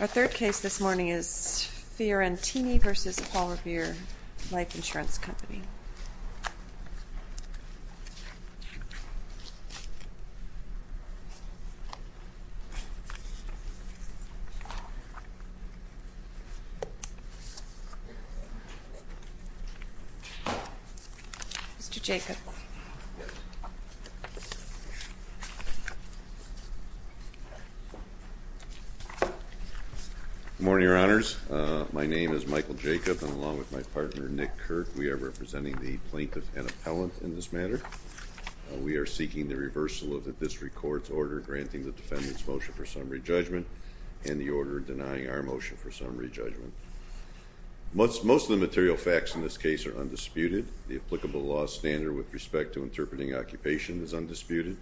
Our third case this morning is Fiorentini v. Paul Revere Life Insurance Company. Mr. Jacob. Good morning, Your Honors. My name is Michael Jacob, and along with my partner Nick Kirk, we are representing the plaintiff and appellant in this matter. We are seeking the reversal of the district court's order granting the defendant's motion for summary judgment and the order denying our motion for summary judgment. Most of the material facts in this case are undisputed. The applicable law standard with respect to interpreting occupation is undisputed.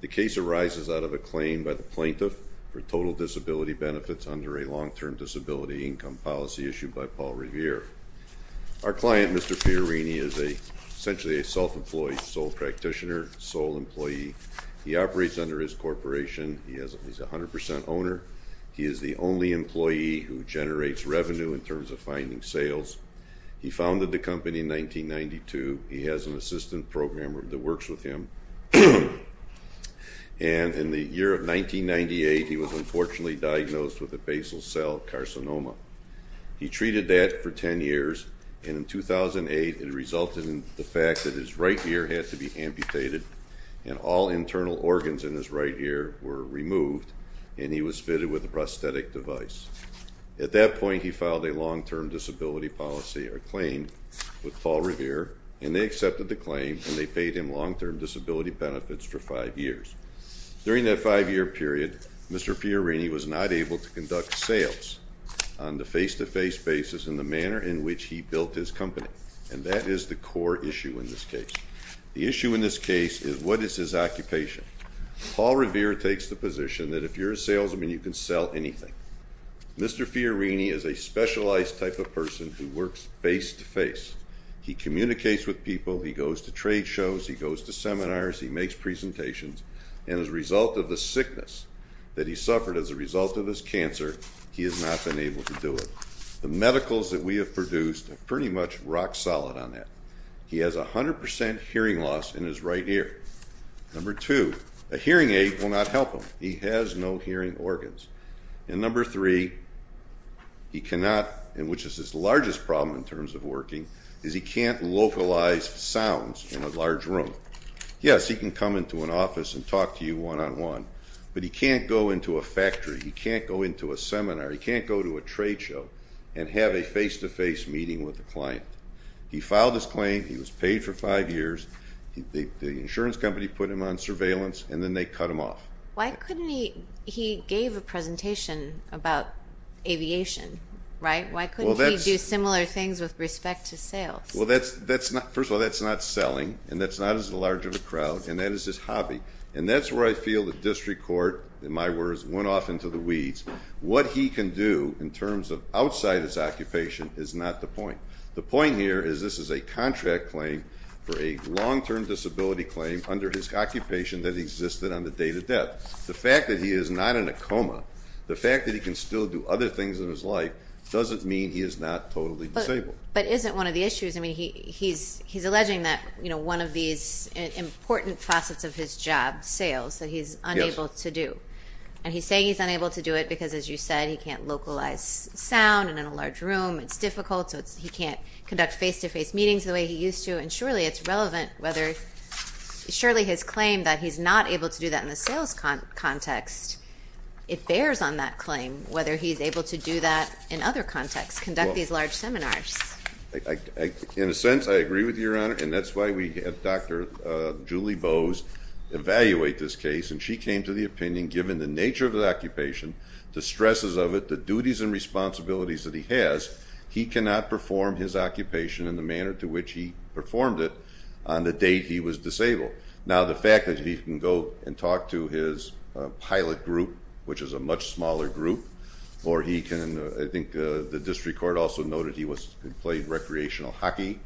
The case arises out of a claim by the plaintiff for total disability benefits under a long-term disability income policy issued by Paul Revere. Our client, Mr. Fiorentini, is essentially a self-employed sole practitioner, sole employee. He operates under his corporation. He's a 100 percent owner. He is the only employee who generates revenue in terms of finding sales. He founded the company in 1992. He has an assistant programmer that works with him. And in the year of 1998, he was unfortunately diagnosed with a basal cell carcinoma. He treated that for 10 years, and in 2008, it resulted in the fact that his right ear had to be amputated, and all internal organs in his right ear were removed, and he was fitted with a prosthetic device. At that point, he filed a long-term disability policy or claim with Paul Revere, and they accepted the claim, and they paid him long-term disability benefits for five years. During that five-year period, Mr. Fiorentini was not able to conduct sales on the face-to-face basis in the manner in which he built his company, and that is the core issue in this case. The issue in this case is what is his occupation. Paul Revere takes the position that if you're a salesman, you can sell anything. Mr. Fiorentini is a specialized type of person who works face-to-face. He communicates with people, he goes to trade shows, he goes to seminars, he makes presentations, and as a result of the sickness that he suffered as a result of his cancer, he has not been able to do it. The medicals that we have produced are pretty much rock solid on that. He has 100% hearing loss in his right ear. Number two, a hearing aid will not help him. He has no hearing organs. And number three, he cannot, which is his largest problem in terms of working, is he can't localize sounds in a large room. Yes, he can come into an office and talk to you one-on-one, but he can't go into a factory, he can't go into a seminar, he can't go to a trade show and have a face-to-face meeting with a client. He filed his claim, he was paid for five years, the insurance company put him on surveillance, and then they cut him off. Why couldn't he, he gave a presentation about aviation, right? Why couldn't he do similar things with respect to sales? Well, that's not, first of all, that's not selling, and that's not as large of a crowd, and that is his hobby. And that's where I feel the district court, in my words, went off into the weeds. What he can do in terms of outside his occupation is not the point. The point here is this is a contract claim for a long-term disability claim under his occupation that existed on the day of death. The fact that he is not in a coma, the fact that he can still do other things in his life, doesn't mean he is not totally disabled. But isn't one of the issues, I mean, he's alleging that one of these important facets of his job, sales, that he's unable to do. Yes. And he's saying he's unable to do it because, as you said, he can't localize sound, and in a large room it's difficult, so he can't conduct face-to-face meetings the way he used to. And surely it's relevant whether, surely his claim that he's not able to do that in the sales context, it bears on that claim whether he's able to do that in other contexts, conduct these large seminars. In a sense, I agree with you, Your Honor, and that's why we had Dr. Julie Bowes evaluate this case, and she came to the opinion, given the nature of the occupation, the stresses of it, the duties and responsibilities that he has, he cannot perform his occupation in the manner to which he performed it on the day he was disabled. Now, the fact that he can go and talk to his pilot group, which is a much smaller group, or he can, I think the district court also noted he played recreational hockey,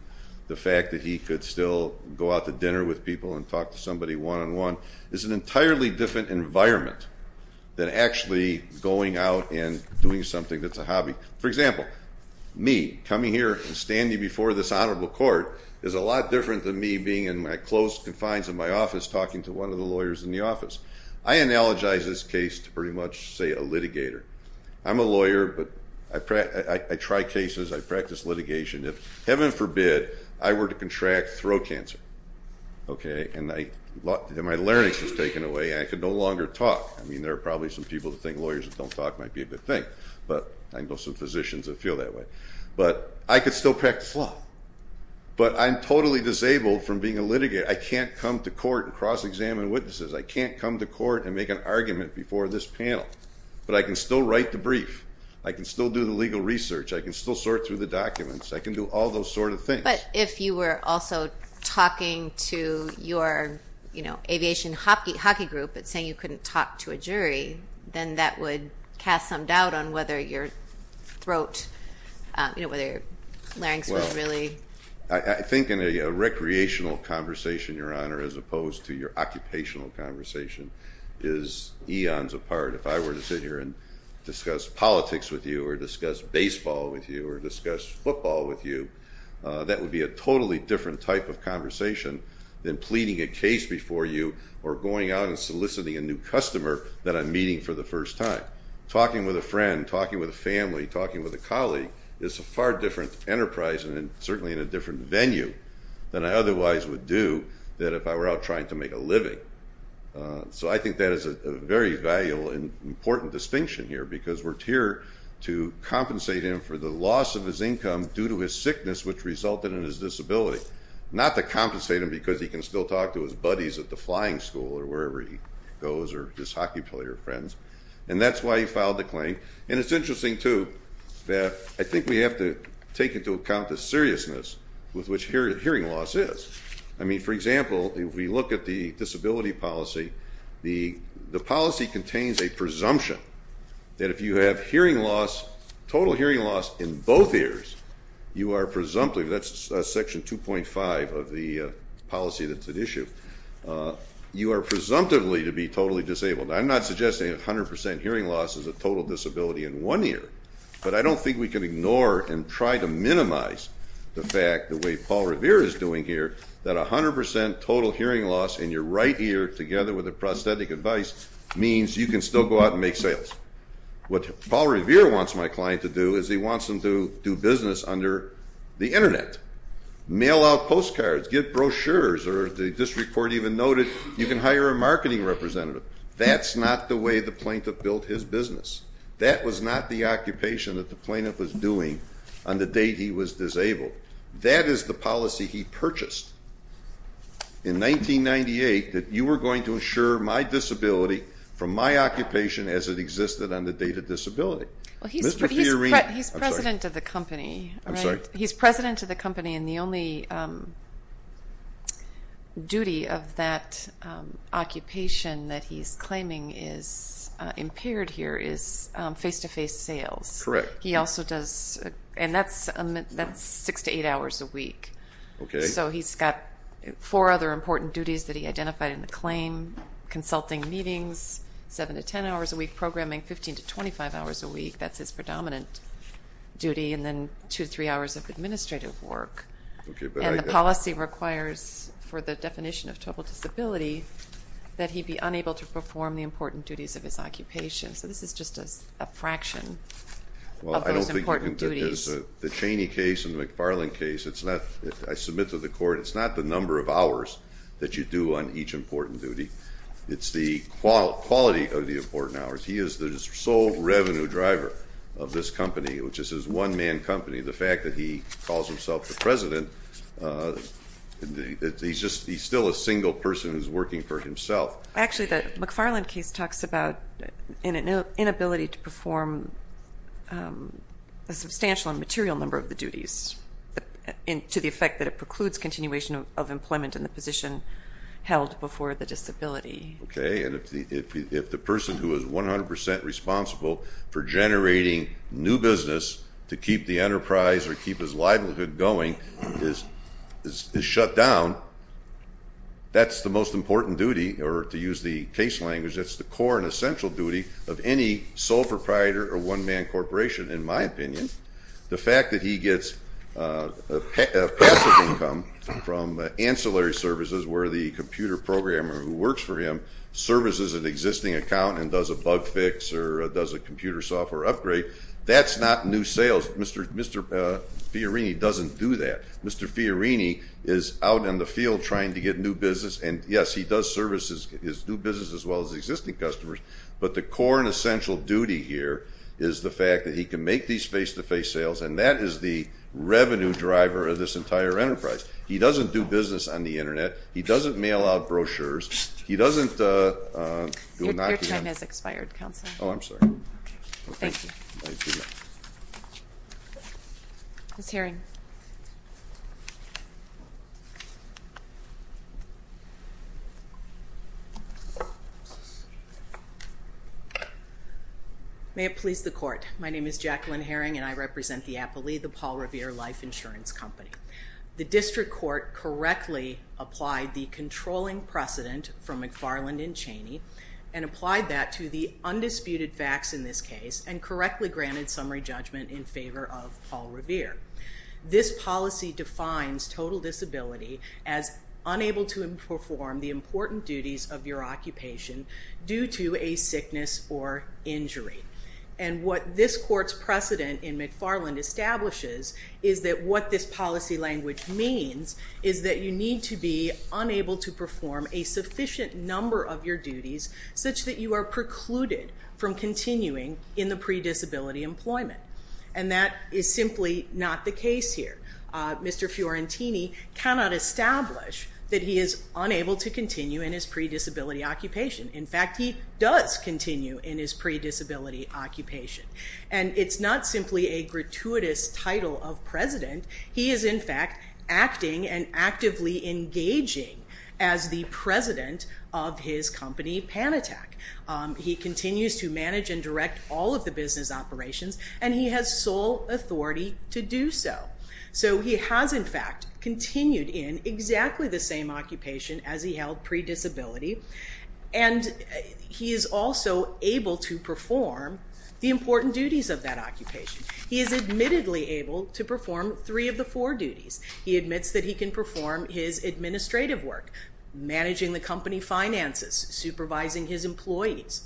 the fact that he could still go out to dinner with people and talk to somebody one-on-one, is an entirely different environment than actually going out and doing something that's a hobby. For example, me, coming here and standing before this honorable court, is a lot different than me being in my close confines of my office talking to one of the lawyers in the office. I analogize this case to pretty much, say, a litigator. I'm a lawyer, but I try cases, I practice litigation. If, heaven forbid, I were to contract throat cancer, okay, and my larynx was taken away, I could no longer talk. I mean, there are probably some people that think lawyers that don't talk might be a good thing, but I know some physicians that feel that way. But I could still practice law, but I'm totally disabled from being a litigator. I can't come to court and cross-examine witnesses. I can't come to court and make an argument before this panel, but I can still write the brief. I can still do the legal research. I can still sort through the documents. I can do all those sort of things. But if you were also talking to your aviation hockey group but saying you couldn't talk to a jury, then that would cast some doubt on whether your throat, you know, whether your larynx was really... Well, I think in a recreational conversation, Your Honor, as opposed to your occupational conversation, is eons apart. If I were to sit here and discuss politics with you or discuss baseball with you or discuss football with you, that would be a totally different type of conversation than pleading a case before you or going out and soliciting a new customer that I'm meeting for the first time. Talking with a friend, talking with a family, talking with a colleague is a far different enterprise and certainly in a different venue than I otherwise would do if I were out trying to make a living. So I think that is a very valuable and important distinction here because we're here to compensate him for the loss of his income due to his sickness which resulted in his disability, not to compensate him because he can still talk to his buddies at the flying school or wherever he goes or his hockey player friends. And that's why he filed the claim. And it's interesting, too, that I think we have to take into account the seriousness with which hearing loss is. I mean, for example, if we look at the disability policy, the policy contains a presumption that if you have hearing loss, total hearing loss in both ears, you are presumptively, that's section 2.5 of the policy that's at issue, you are presumptively to be totally disabled. I'm not suggesting 100% hearing loss is a total disability in one ear, but I don't think we can ignore and try to minimize the fact, the way Paul Revere is doing here, that 100% total hearing loss in your right ear together with the prosthetic device means you can still go out and make sales. What Paul Revere wants my client to do is he wants them to do business under the Internet, mail out postcards, get brochures or the district court even noted you can hire a marketing representative. That's not the way the plaintiff built his business. That was not the occupation that the plaintiff was doing on the date he was disabled. That is the policy he purchased in 1998 that you were going to insure my disability from my occupation as it existed on the date of disability. Well, he's president of the company. I'm sorry. He's president of the company, and the only duty of that occupation that he's claiming is impaired here is face-to-face sales. Correct. He also does, and that's six to eight hours a week. Okay. So he's got four other important duties that he identified in the claim, consulting meetings seven to ten hours a week, programming 15 to 25 hours a week. That's his predominant duty, and then two to three hours of administrative work. Okay. And the policy requires for the definition of total disability that he be unable to perform the important duties of his occupation. So this is just a fraction of those important duties. Well, I don't think that the Cheney case and the McFarland case, I submit to the court, it's not the number of hours that you do on each important duty. It's the quality of the important hours. He is the sole revenue driver of this company, which is his one-man company. The fact that he calls himself the president, he's still a single person who's working for himself. Actually, the McFarland case talks about an inability to perform a substantial and material number of the duties, to the effect that it precludes continuation of employment in the position held before the disability. Okay. And if the person who is 100% responsible for generating new business to keep the enterprise or keep his livelihood going is shut down, that's the most important duty, or to use the case language, that's the core and essential duty of any sole proprietor or one-man corporation, in my opinion. The fact that he gets a passive income from ancillary services where the computer programmer who works for him services an existing account and does a bug fix or does a computer software upgrade, that's not new sales. Mr. Fiorini doesn't do that. Mr. Fiorini is out in the field trying to get new business, and yes, he does service his new business as well as existing customers, but the core and essential duty here is the fact that he can make these face-to-face sales, and that is the revenue driver of this entire enterprise. He doesn't do business on the Internet. He doesn't mail out brochures. He doesn't do nothing. Your time has expired, Counselor. Oh, I'm sorry. Okay. Thank you. Thank you. Ms. Herring. May it please the Court. My name is Jacqueline Herring, and I represent the Appley, the Paul Revere Life Insurance Company. The district court correctly applied the controlling precedent from McFarland and Chaney and applied that to the undisputed facts in this case and correctly granted summary judgment in favor of Paul Revere. This policy defines total disability as unable to perform the important duties of your occupation due to a sickness or injury, and what this court's precedent in McFarland establishes is that what this policy language means is that you need to be unable to perform a sufficient number of your duties such that you are precluded from continuing in the pre-disability employment, and that is simply not the case here. Mr. Fiorentini cannot establish that he is unable to continue in his pre-disability occupation. In fact, he does continue in his pre-disability occupation, and it's not simply a gratuitous title of president. He is, in fact, acting and actively engaging as the president of his company, Panatac. He continues to manage and direct all of the business operations, and he has sole authority to do so. So he has, in fact, continued in exactly the same occupation as he held pre-disability, and he is also able to perform the important duties of that occupation. He is admittedly able to perform three of the four duties. He admits that he can perform his administrative work, managing the company finances, supervising his employees.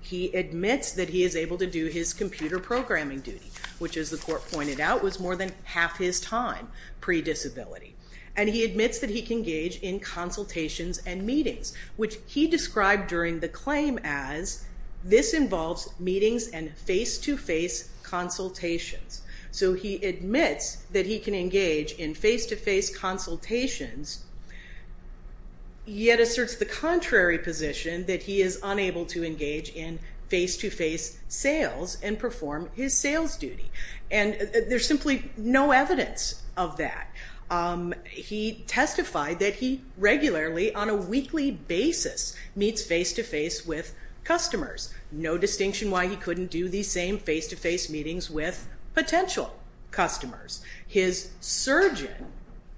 He admits that he is able to do his computer programming duty, which, as the court pointed out, was more than half his time pre-disability, and he admits that he can engage in consultations and meetings, which he described during the claim as this involves meetings and face-to-face consultations. So he admits that he can engage in face-to-face consultations, yet asserts the contrary position that he is unable to engage in face-to-face sales and perform his sales duty, and there's simply no evidence of that. He testified that he regularly, on a weekly basis, meets face-to-face with customers. No distinction why he couldn't do these same face-to-face meetings with potential customers. His surgeon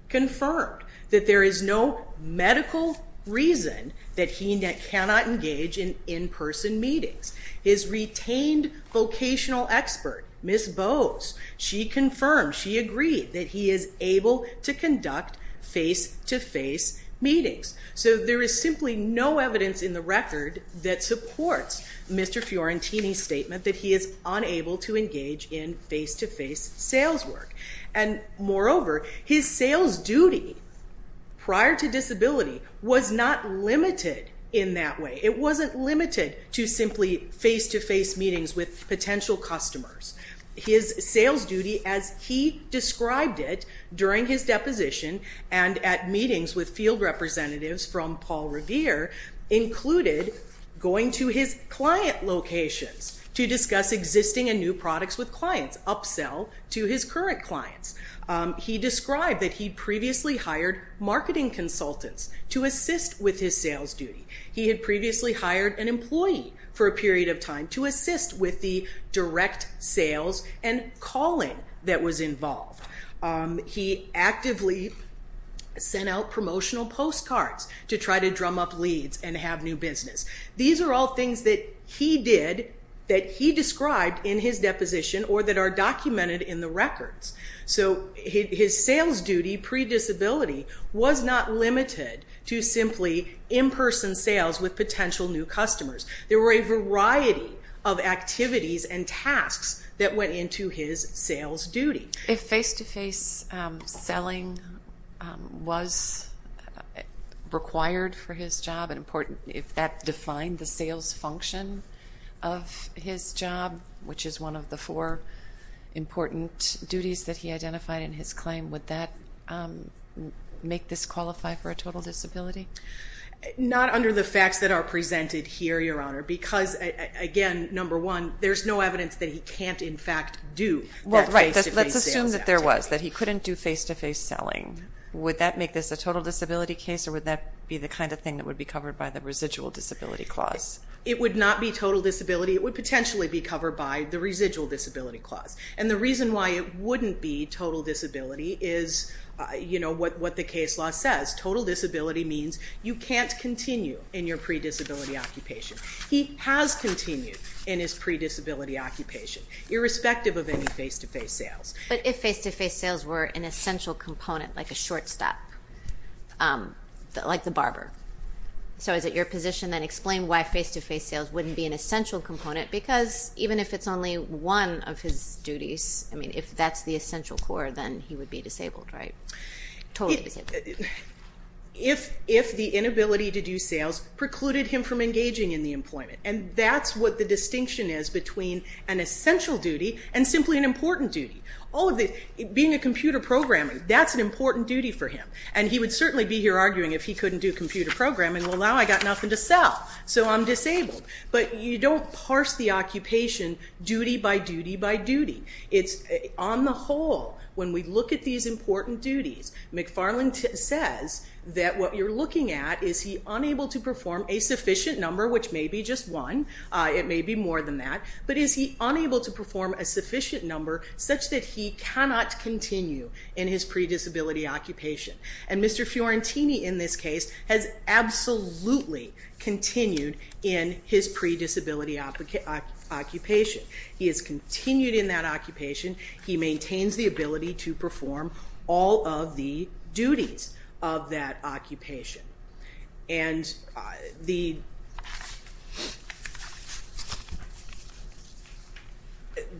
confirmed that there is no medical reason that he cannot engage in in-person meetings. His retained vocational expert, Ms. Bose, she confirmed, she agreed, that he is able to conduct face-to-face meetings. So there is simply no evidence in the record that supports Mr. Fiorentini's statement that he is unable to engage in face-to-face sales work. And moreover, his sales duty prior to disability was not limited in that way. It wasn't limited to simply face-to-face meetings with potential customers. His sales duty as he described it during his deposition and at meetings with field representatives from Paul Revere included going to his client locations to discuss existing and new products with clients, upsell to his current clients. He described that he previously hired marketing consultants to assist with his sales duty. He had previously hired an employee for a period of time to assist with the direct sales and calling that was involved. He actively sent out promotional postcards to try to drum up leads and have new business. These are all things that he did that he described in his deposition or that are documented in the records. So his sales duty pre-disability was not limited to simply in-person sales with potential new customers. There were a variety of activities and tasks that went into his sales duty. If face-to-face selling was required for his job, if that defined the sales function of his job, which is one of the four important duties that he identified in his claim, would that make this qualify for a total disability? Not under the facts that are presented here, Your Honor, because, again, number one, there's no evidence that he can't in fact do that face-to-face sales activity. Well, right. Let's assume that there was, that he couldn't do face-to-face selling. Would that make this a total disability case or would that be the kind of thing that would be covered by the residual disability clause? It would not be total disability. It would potentially be covered by the residual disability clause. And the reason why it wouldn't be total disability is what the case law says. Total disability means you can't continue in your pre-disability occupation. He has continued in his pre-disability occupation, irrespective of any face-to-face sales. But if face-to-face sales were an essential component, like a short stop, like the barber, so is it your position then explain why face-to-face sales wouldn't be an essential component because even if it's only one of his duties, I mean, if that's the essential core, then he would be disabled, right? Totally disabled. If the inability to do sales precluded him from engaging in the employment. And that's what the distinction is between an essential duty and simply an important duty. Being a computer programmer, that's an important duty for him. And he would certainly be here arguing if he couldn't do computer programming, well now I've got nothing to sell, so I'm disabled. But you don't parse the occupation duty by duty by duty. It's on the whole, when we look at these important duties, McFarland says that what you're looking at is he unable to perform a sufficient number, which may be just one, it may be more than that, but is he unable to perform a sufficient number such that he cannot continue in his predisability occupation. And Mr. Fiorentini in this case has absolutely continued in his predisability occupation. He has continued in that occupation. He maintains the ability to perform all of the duties of that occupation. And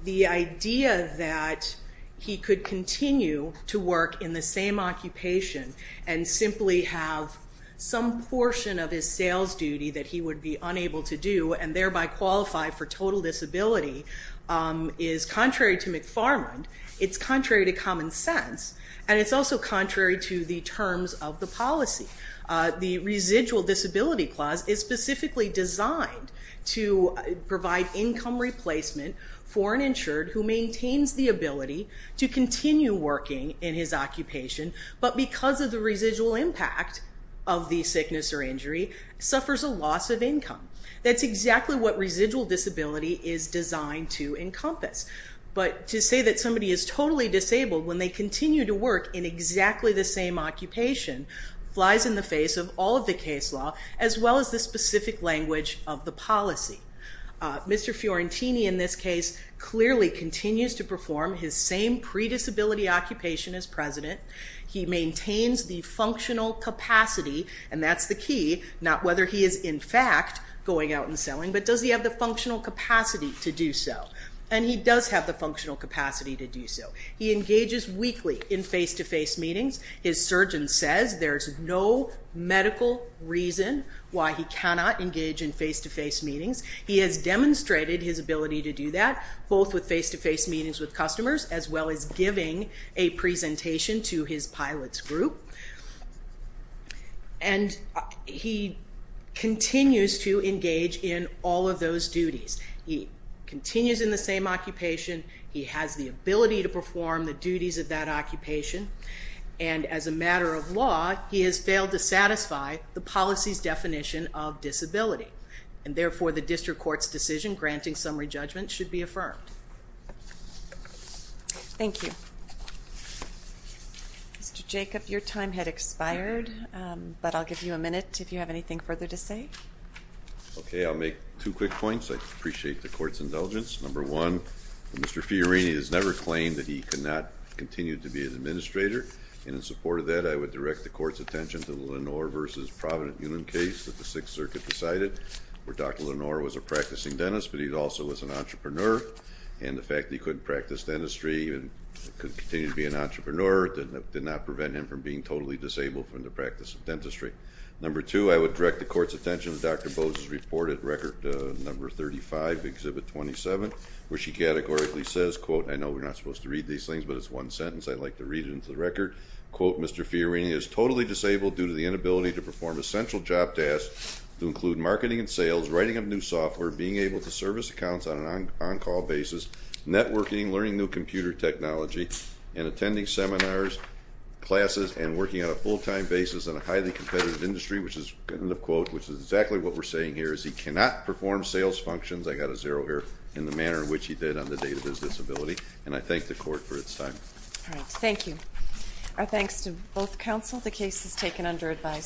the idea that he could continue to work in the same occupation and simply have some portion of his sales duty that he would be unable to do and thereby qualify for total disability is contrary to McFarland, it's contrary to common sense, and it's also contrary to the terms of the policy. The residual disability clause is specifically designed to provide income replacement for an insured who maintains the ability to continue working in his occupation, but because of the residual impact of the sickness or injury, suffers a loss of income. That's exactly what residual disability is designed to encompass. But to say that somebody is totally disabled when they continue to work in exactly the same occupation flies in the face of all of the case law as well as the specific language of the policy. Mr. Fiorentini in this case clearly continues to perform his same predisability occupation as president. He maintains the functional capacity, and that's the key, not whether he is in fact going out and selling, but does he have the functional capacity to do so. And he does have the functional capacity to do so. He engages weekly in face-to-face meetings. His surgeon says there's no medical reason why he cannot engage in face-to-face meetings. He has demonstrated his ability to do that, both with face-to-face meetings with customers as well as giving a presentation to his pilots group. And he continues to engage in all of those duties. He continues in the same occupation. He has the ability to perform the duties of that occupation. And as a matter of law, he has failed to satisfy the policy's definition of disability, and therefore the district court's decision granting summary judgment should be affirmed. Thank you. Mr. Jacob, your time had expired, but I'll give you a minute if you have anything further to say. Okay, I'll make two quick points. I appreciate the court's indulgence. Number one, Mr. Fiorini has never claimed that he could not continue to be an administrator, and in support of that I would direct the court's attention to the Lenore v. Providence case that the Sixth Circuit decided where Dr. Lenore was a practicing dentist, but he also was an entrepreneur, and the fact that he couldn't practice dentistry and could continue to be an entrepreneur did not prevent him from being totally disabled from the practice of dentistry. Number two, I would direct the court's attention to Dr. Bose's report at record number 35, Exhibit 27, where she categorically says, and I know we're not supposed to read these things, but it's one sentence. I'd like to read it into the record. Mr. Fiorini is totally disabled due to the inability to perform essential job tasks to include marketing and sales, writing up new software, being able to service accounts on an on-call basis, networking, learning new computer technology, and attending seminars, classes, and working on a full-time basis in a highly competitive industry, which is exactly what we're saying here is he cannot perform sales functions. I got a zero here in the manner in which he did on the date of his disability, and I thank the court for its time. All right. Thank you. Our thanks to both counsel. The case is taken under advisory.